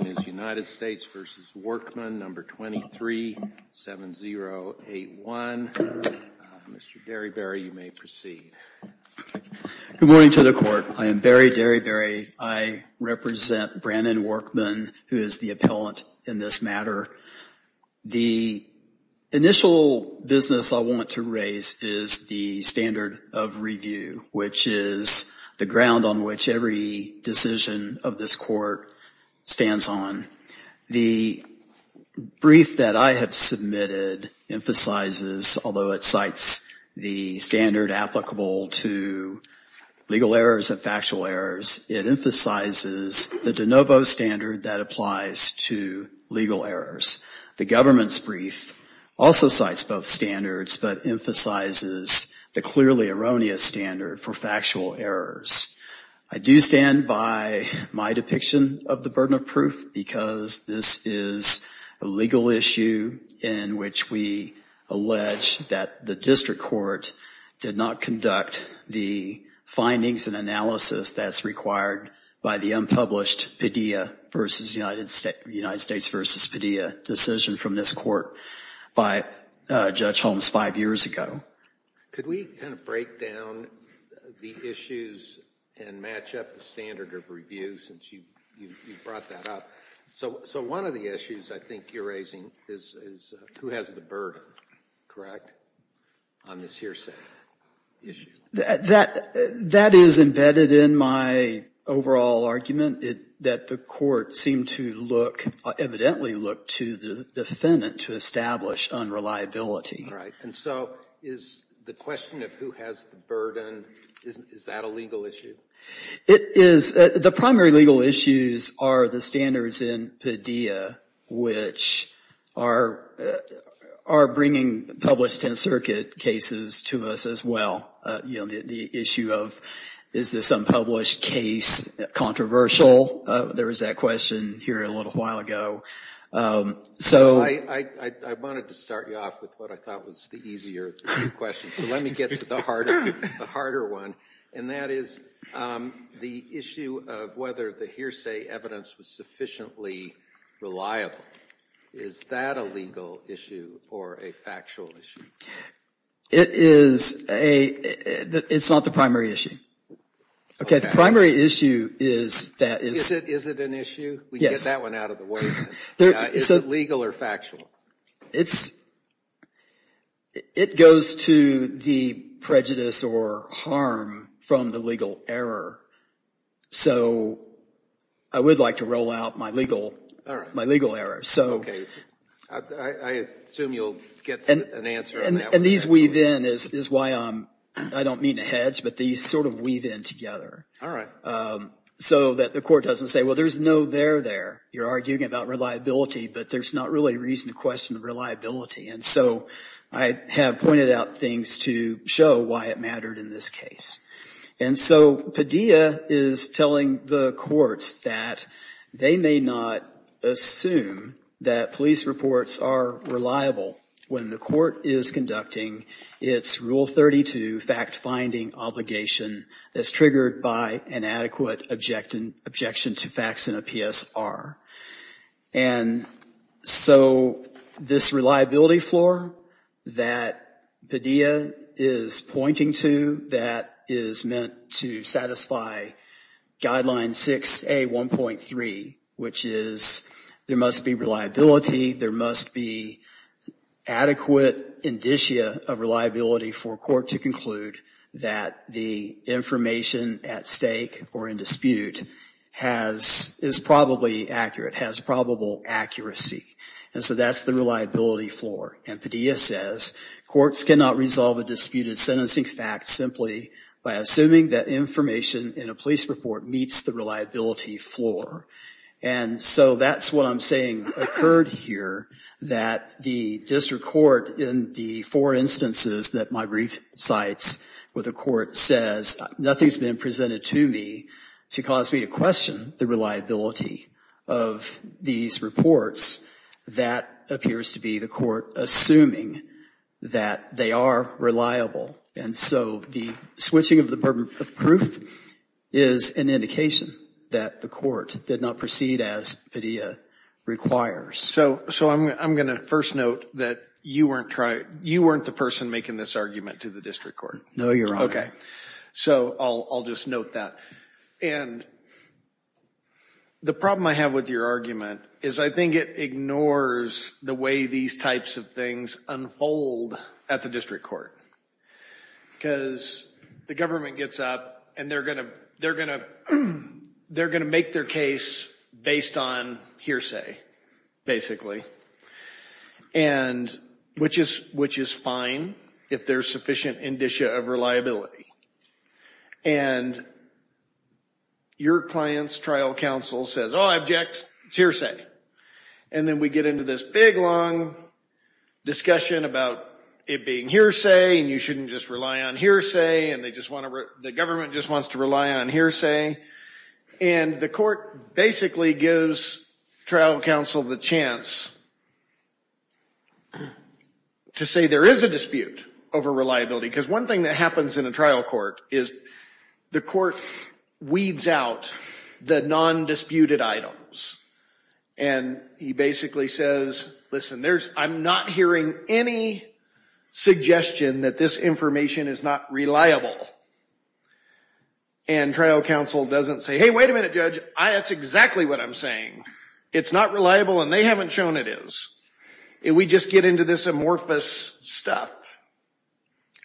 237081. Mr. Derryberry you may proceed. Good morning to the court. I am Barry Derryberry. I represent Brandon Workman, who is the appellant in this matter. The initial business I want to raise is the standard of review, which is the ground on which every decision of this court stands on. The brief that I have submitted emphasizes, although it cites the standard applicable to legal errors and factual errors, it emphasizes the de novo standard that applies to legal errors. The government's brief also cites both standards, but emphasizes the clearly of the burden of proof, because this is a legal issue in which we allege that the district court did not conduct the findings and analysis that's required by the unpublished PIDEA v. United States v. PIDEA decision from this court by Judge Holmes five years ago. Could we kind of break down the issues and match up the standard of review, since you brought that up? So one of the issues I think you're raising is who has the burden, correct, on this hearsay issue? That is embedded in my overall argument, that the court seemed to look, evidently look, to the defendant to establish unreliability. Right. And so is the question of who has the burden, is that a legal issue? It is. The primary legal issues are the standards in PIDEA, which are bringing published Tenth Circuit cases to us as well. The issue of is this unpublished case controversial? There was that question here a little while ago. So I wanted to start you off with what I thought was the easier question, so let me get to the harder one, and that is the issue of whether the hearsay evidence was sufficiently reliable. Is that a legal issue or a factual issue? It is a – it's not the primary issue. Okay, the primary issue is that – Is it an issue? Yes. We can get that one out of the way then. Is it legal or factual? It's – it goes to the prejudice or harm from the legal error. So I would like to roll out my legal error. Okay. I assume you'll get an answer on that one. And these weave in, is why I don't mean to hedge, but these sort of weave in together. All right. So that the court doesn't say, well, there's no there there. You're arguing about reliability, but there's not really a reason to question the reliability. And so I have pointed out things to show why it mattered in this case. And so Padilla is telling the courts that they may not assume that police reports are reliable when the court is conducting its Rule 32 fact-finding obligation that's triggered by an adequate objection to facts in a PSR. And so this reliability floor that Padilla is pointing to that is meant to satisfy Guideline 6A.1.3, which is there must be reliability, there must be adequate indicia of reliability for court to conclude that the information at stake or in dispute has – is probably accurate, has probable accuracy. And so that's the reliability floor. And Padilla says courts cannot resolve a disputed sentencing fact simply by assuming that information in a police report meets the reliability floor. And so that's what I'm saying occurred here, that the district court in the four instances that my brief cites where the court says nothing's been presented to me to cause me to question the reliability of these reports, that appears to be the court assuming that they are reliable. And so the switching of the burden of proof is an indication that the court did not proceed as Padilla requires. So I'm going to first note that you weren't the person making this argument to the district court. No, Your Honor. Okay. So I'll just note that. And the problem I have with your argument is I think it ignores the way these types of things unfold at the district court. Because the government gets up and they're going to – they're going to make their case based on hearsay, basically. And – which is fine if there's sufficient indicia of reliability. And your client's trial counsel says, oh, I object. It's hearsay. And then we get into this big, long discussion about it being hearsay, and you shouldn't just rely on hearsay, and they just want to – the government just wants to rely on hearsay. And the court basically gives trial counsel the chance to say there is a dispute over reliability. Because one thing that happens in a trial court is the court weeds out the non-disputed items. And he basically says, listen, I'm not hearing any suggestion that this information is not reliable. And trial counsel doesn't say, hey, wait a minute, Judge, that's exactly what I'm saying. It's not reliable and they haven't shown it is. And we just get into this amorphous stuff.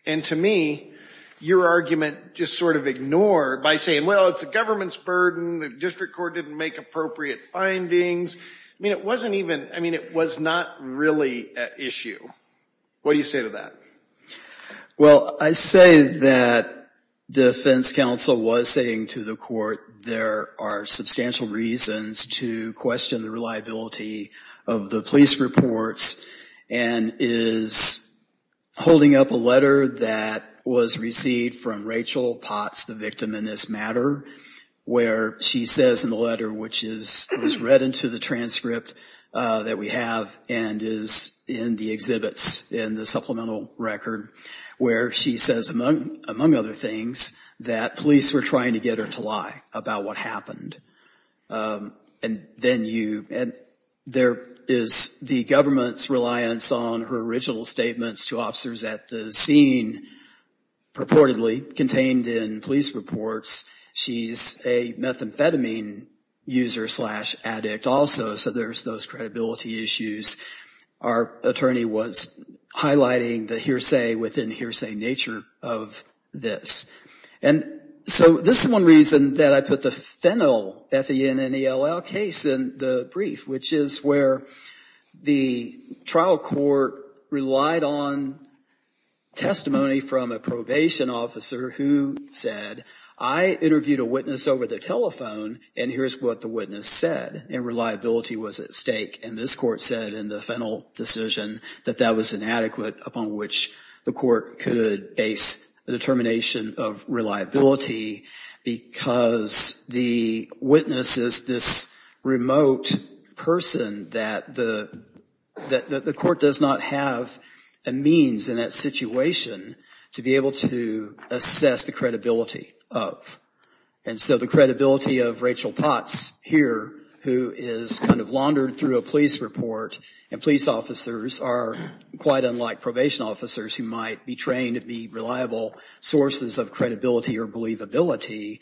And to me, your argument just sort of ignored by saying, well, it's the government's burden. The district court didn't make appropriate findings. I mean, it wasn't even – I mean, it was not really at issue. What do you say to that? Well, I say that defense counsel was saying to the court there are substantial reasons to question the reliability of the police reports and is holding up a letter that was received from Rachel Potts, the victim in this matter, where she says in the letter, which is read into the transcript that we have and is in the exhibits in the supplemental record, where she says, among other things, that police were trying to get her to lie about what happened. And then you – and there is the government's reliance on her digital statements to officers at the scene purportedly contained in police reports. She's a methamphetamine user slash addict also, so there's those credibility issues. Our attorney was highlighting the hearsay within hearsay nature of this. And so this is one reason that I put the Fennel, F-E-N-N-E-L-L, case in the brief, which is where the trial court relied on testimony from a probation officer who said, I interviewed a witness over the telephone and here's what the witness said, and reliability was at stake. And this court said in the Fennel decision that that was inadequate upon which the court could base a determination of reliability because the witness is this remote person that the court does not have a means in that situation to be able to assess the credibility of. And so the credibility of Rachel Potts here, who is kind of laundered through a police report, and police officers are quite unlike probation officers who might be trained to be reliable sources of credibility or believability,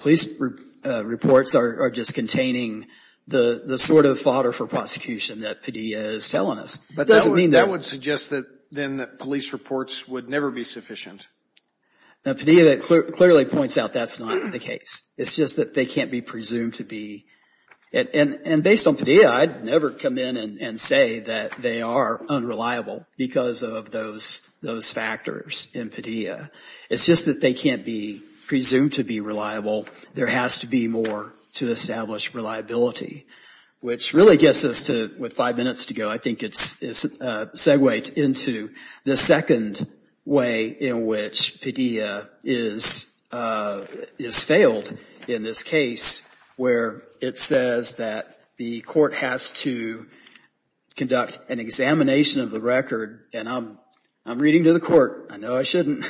police reports are just containing the sort of fodder for prosecution that Padilla is telling us. But that would suggest then that police reports would never be sufficient. Now, Padilla clearly points out that's not the case. It's just that they can't be presumed to be. And based on Padilla, I'd never come in and say that they are unreliable because of those factors in Padilla. It's just that they can't be presumed to be reliable. There has to be more to establish reliability, which really gets us to what five minutes to go. I think it's a segue into the second way in which Padilla is failed in this case where it says that the court has to conduct an examination of the record. And I'm reading to the court, I know I shouldn't,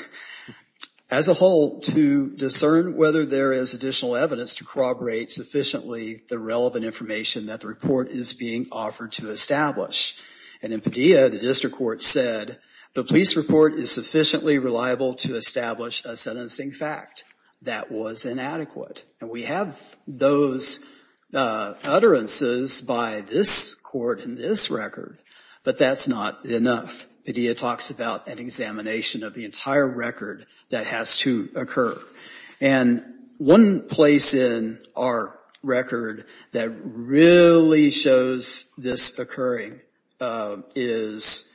as a whole to discern whether there is additional evidence to corroborate sufficiently the relevant information that the report is being offered to establish. And in Padilla, the district court said the police report is sufficiently reliable to establish a sentencing fact. That was inadequate. And we have those utterances by this court in this record, but that's not enough. Padilla talks about an examination of the entire record that has to occur. And one place in our record that really shows this occurring is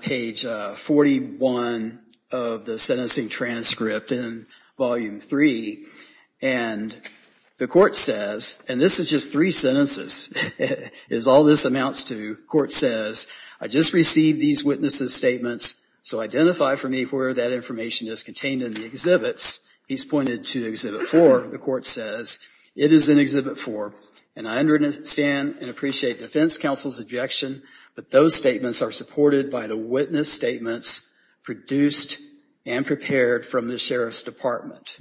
page 41 of the sentencing transcript in volume three. And the court says, and this is just three sentences, as all this amounts to, the court says, I just received these witnesses' statements, so identify for me where that information is contained in the exhibits. He's pointed to exhibit four. The court says, it is in exhibit four. And I understand and appreciate defense counsel's objection, but those statements are supported by the witness statements produced and prepared from the sheriff's department.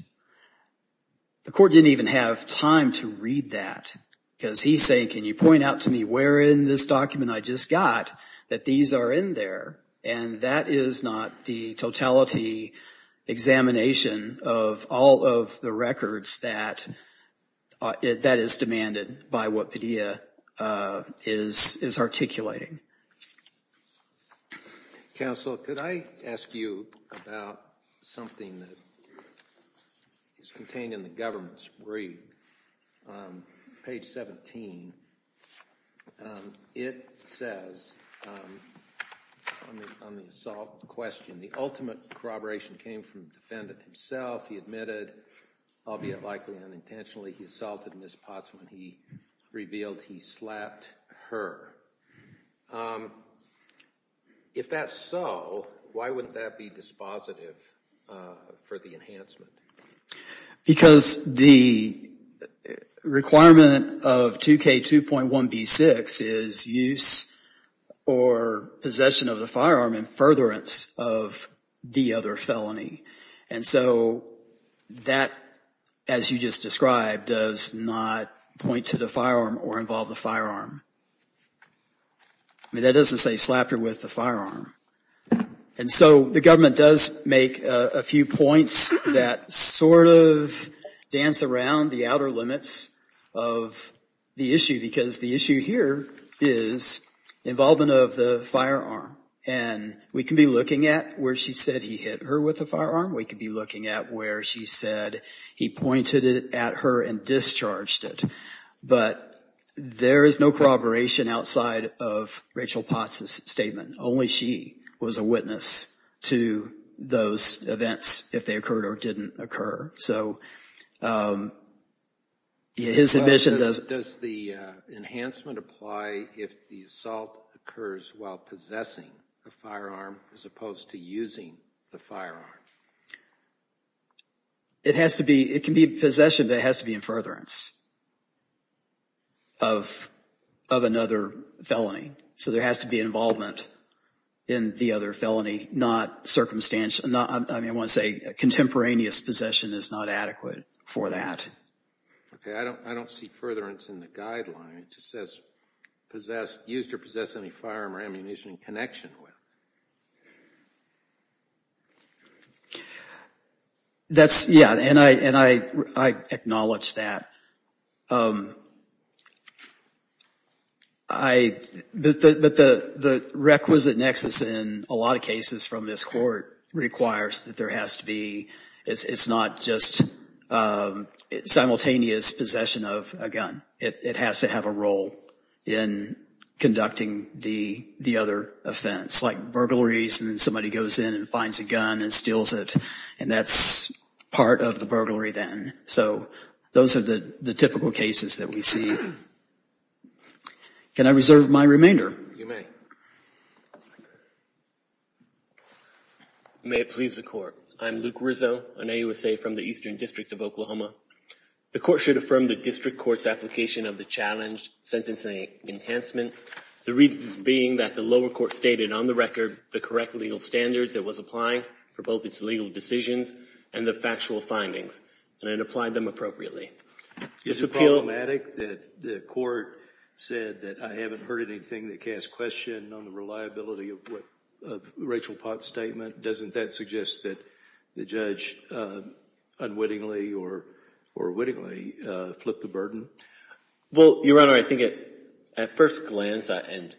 The court didn't even have time to read that because he's saying, can you point out to me where in this document I just got that these are in there? And that is not the totality examination of all of the records that is demanded by what Padilla is articulating. Counsel, could I ask you about something that is contained in the government's brief? Page 17, it says, on the assault question, the ultimate corroboration came from the defendant himself. He admitted, albeit likely unintentionally, he assaulted Ms. Potts when he revealed he slapped her. If that's so, why wouldn't that be dispositive for the enhancement? Because the requirement of 2K2.1b6 is use or possession of the firearm in furtherance of the other felony. And so that, as you just described, does not point to the firearm or involve the firearm. I mean, that doesn't say slap her with the firearm. And so the government does make a few points that sort of dance around the outer limits of the issue because the issue here is involvement of the firearm. And we can be looking at where she said he hit her with a firearm. We could be looking at where she said he pointed it at her and discharged it. But there is no corroboration outside of Rachel Potts' statement. Only she was a witness to those events if they occurred or didn't occur. So his admission does... Does the enhancement apply if the assault occurs while possessing a firearm as opposed to using the firearm? It has to be... It can be possession, but it has to be in furtherance of another felony. So there has to be involvement in the other felony, not circumstantial. I mean, I want to say contemporaneous possession is not adequate for that. Okay. I don't see furtherance in the guideline. It just says possessed... Used or possessed any firearm or ammunition in connection with. That's... Yeah. And I acknowledge that. I... But the requisite nexus in a lot of cases from this court requires that there has to be... It's not just simultaneous possession of a gun. It has to have a role in conducting the other offense, like burglaries and somebody goes in and finds a gun and steals it. And that's part of the burglary then. So those are the typical cases that we see. Can I reserve my remainder? You may. May it please the court. I'm Luke Rizzo, an AUSA from the Eastern District of Oklahoma. The court should affirm the district court's application of the challenged sentencing enhancement, the reasons being that the lower court stated on the record the correct legal standards it was applying for both its legal decisions and the factual findings, and then applied them appropriately. Is it problematic that the court said that I haven't heard anything that casts question on the reliability of Rachel Potts' statement? Doesn't that suggest that the judge unwittingly or wittingly flipped the burden? Well, Your Honor, I think at first glance and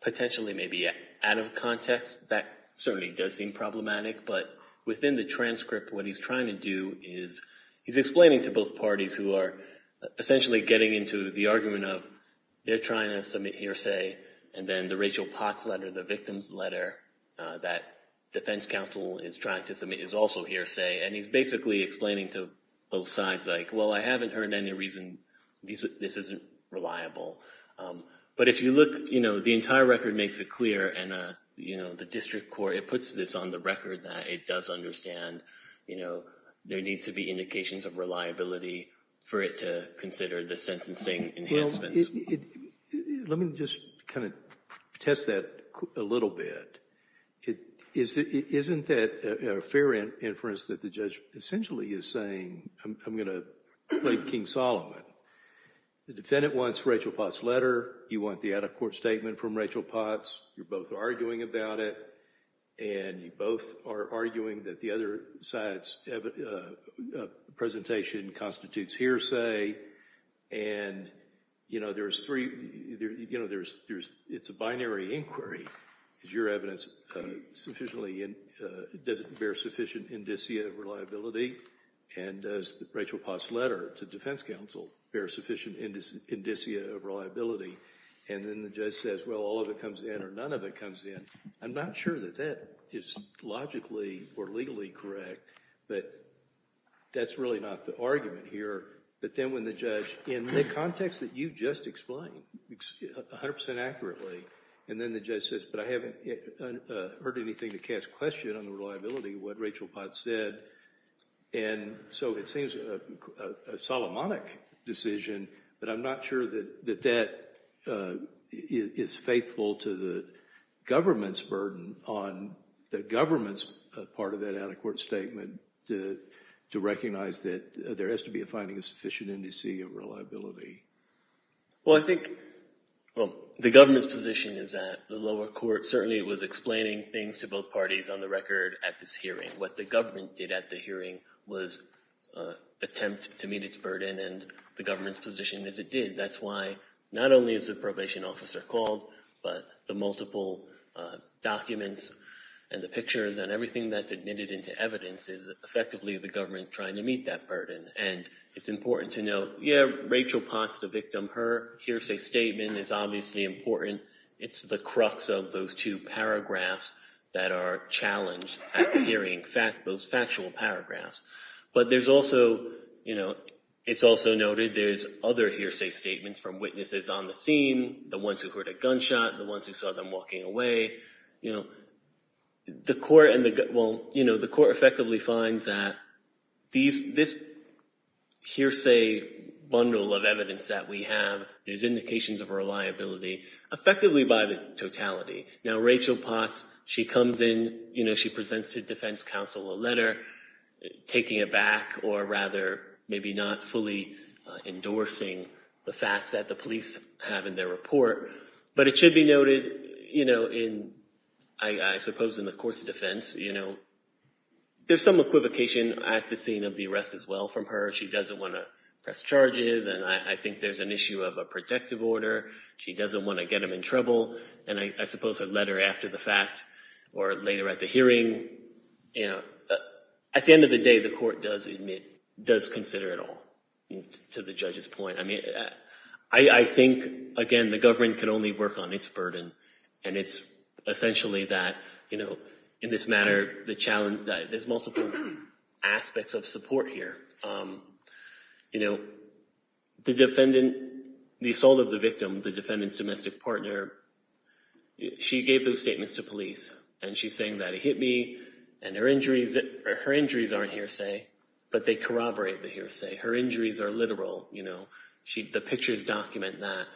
potentially maybe out of context, that certainly does seem problematic. But within the transcript, what he's trying to do is he's explaining to both parties who are essentially getting into the argument of they're trying to submit hearsay, and then the Rachel Potts letter, the victim's letter that defense counsel is trying to submit is also hearsay. And he's basically explaining to both sides, like, well, I haven't heard any reason this isn't reliable. But if you look, you know, the entire record makes it clear, and, you know, the district court, it puts this on the record that it does understand, you know, there needs to be indications of reliability for it to consider the sentencing enhancements. Let me just kind of test that a little bit. Isn't that a fair inference that the judge essentially is saying, I'm going to blame King Solomon? The defendant wants Rachel Potts' letter, you want the out-of-court statement from Rachel Potts, you're both arguing about it, and you both are arguing that the other side's presentation constitutes hearsay, and, you know, there's three, you know, there's, it's a binary inquiry. Is your evidence sufficiently, does it bear sufficient indicia of reliability? And does Rachel Potts' letter to defense counsel bear sufficient indicia of reliability? And then the judge says, well, all of it comes in or none of it comes in. I'm not sure that that is logically or legally correct, but that's really not the argument here. But then when the judge, in the context that you just explained 100% accurately, and then the judge says, but I haven't heard anything to cast question on the reliability of what Rachel Potts said, and so it seems a Solomonic decision, but I'm not sure that that is faithful to the government's burden on the government's part of that out-of-court statement to recognize that there has to be a finding of sufficient indicia of reliability. Well, I think the government's position is that the lower court certainly was explaining things to both parties on the record at this hearing. What the government did at the hearing was attempt to meet its burden, and the government's position is it did. That's why not only is the probation officer called, but the multiple documents and the pictures and everything that's admitted into evidence is effectively the government trying to meet that burden. And it's important to know, yeah, Rachel Potts, the victim, her hearsay statement is obviously important. It's the crux of those two paragraphs that are challenged at hearing those factual paragraphs. But there's also, you know, it's also noted there's other hearsay statements from witnesses on the scene, the ones who heard a gunshot, the ones who saw them walking away. You know, the court and the, well, you know, the court effectively finds that this hearsay bundle of evidence that we have, there's indications of reliability, effectively by the totality. Now, Rachel Potts, she comes in, you know, she presents to defense counsel a letter taking it back or rather maybe not fully endorsing the facts that the police have in their report. But it should be noted, you know, in, I suppose in the court's defense, you know, there's some equivocation at the scene of the arrest as well from her. She doesn't want to press charges, and I think there's an issue of a protective order. She doesn't want to get them in trouble. And I suppose her letter after the fact or later at the hearing, you know, at the end of the day, the court does admit, does consider it all to the judge's point. I mean, I think, again, the government can only work on its burden. And it's essentially that, you know, in this matter, the challenge that there's multiple aspects of support here. You know, the defendant, the assault of the victim, the defendant's domestic partner, she gave those statements to police. And she's saying that he hit me, and her injuries aren't hearsay, but they corroborate the hearsay. Her injuries are literal, you know. The pictures document that.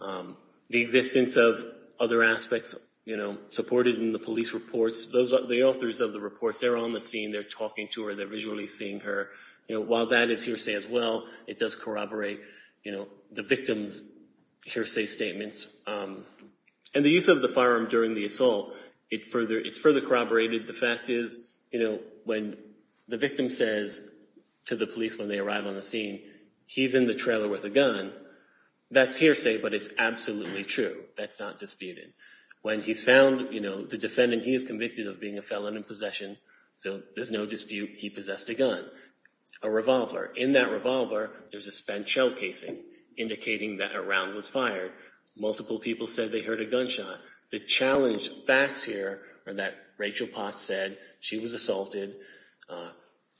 The existence of other aspects, you know, supported in the police reports, those are the authors of the reports. They're on the scene. They're talking to her. They're visually seeing her. You know, while that is hearsay as well, it does corroborate, you know, the victim's hearsay statements. And the use of the firearm during the assault, it's further corroborated. The fact is, you know, when the victim says to the police when they arrive on the scene, he's in the trailer with a gun, that's hearsay, but it's absolutely true. That's not disputed. When he's found, you know, the defendant, he is convicted of being a felon in possession, so there's no dispute he possessed a gun, a revolver. In that revolver, there's a spent shell casing indicating that a round was fired. Multiple people said they heard a gunshot. The challenge facts here are that Rachel Potts said she was assaulted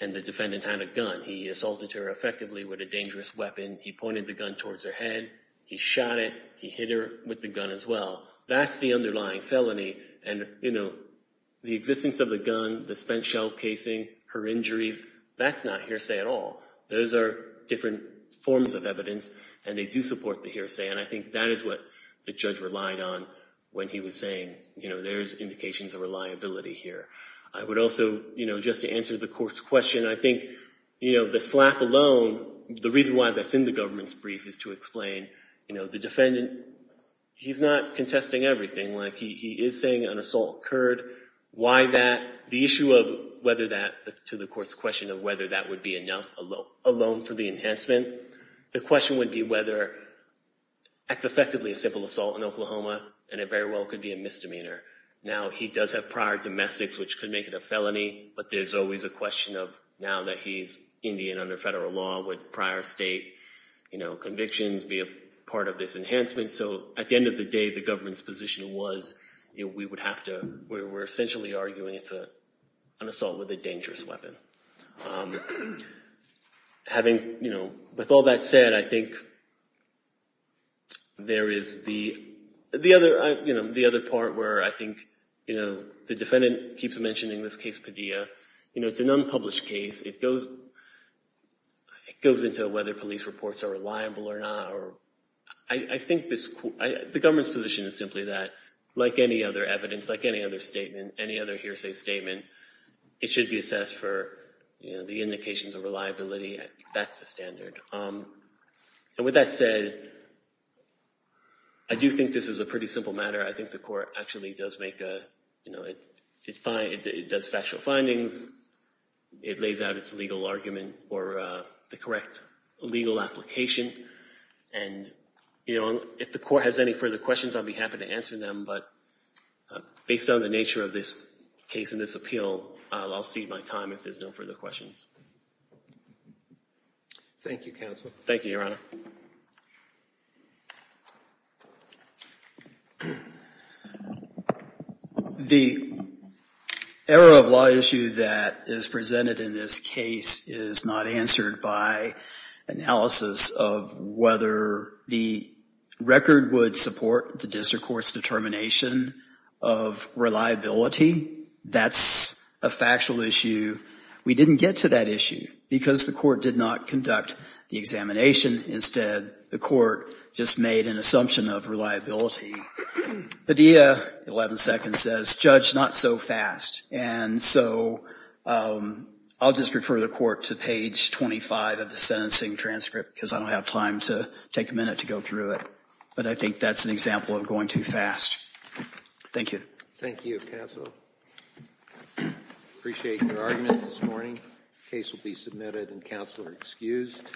and the defendant had a gun. He assaulted her effectively with a dangerous weapon. He pointed the gun towards her head. He shot it. He hit her with the gun as well. That's the underlying felony. And, you know, the existence of the gun, the spent shell casing, her injuries, that's not hearsay at all. Those are different forms of evidence, and they do support the hearsay, and I think that is what the judge relied on when he was saying, you know, there's indications of reliability here. I would also, you know, just to answer the court's question, I think, you know, the slap alone, the reason why that's in the government's brief is to explain, you know, the defendant, he's not contesting everything. Like, he is saying an assault occurred. Why that? The court's question of whether that would be enough alone for the enhancement. The question would be whether that's effectively a simple assault in Oklahoma, and it very well could be a misdemeanor. Now, he does have prior domestics, which could make it a felony, but there's always a question of now that he's Indian under federal law, would prior state, you know, convictions be a part of this enhancement? So, at the end of the day, the government's position was, you know, we would have to, we're essentially arguing it's an assault with a dangerous weapon. Having, you know, with all that said, I think there is the, the other, you know, the other part where I think, you know, the defendant keeps mentioning this case Padilla. You know, it's an unpublished case. It goes, it goes into whether police reports are reliable or not. I think this, the government's position is simply that, like any other evidence, like any other statement, any other hearsay statement, it should be assessed for, you know, the indications of reliability. That's the standard. And with that said, I do think this is a pretty simple matter. I think the court actually does make a, you know, it finds, it does factual findings. It lays out its legal argument or the correct legal application. And, you know, if the court has any further questions, I'll be happy to answer them. But based on the nature of this case and this appeal, I'll cede my time if there's no further questions. Thank you, Counsel. Thank you, Your Honor. The error of law issue that is presented in this case is not answered by analysis of whether the record would support the district court's determination of reliability. That's a factual issue. We didn't get to that issue because the court did not conduct the examination. Instead, the court just made an assumption of reliability. Padilla, 11 seconds says, Judge, not so fast. And so I'll just refer the court to page 25 of the sentencing transcript because I don't have time to take a minute to go through it. But I think that's an example of going too fast. Thank you. Thank you, Counsel. I appreciate your arguments this morning. The case will be submitted and Counsel are excused.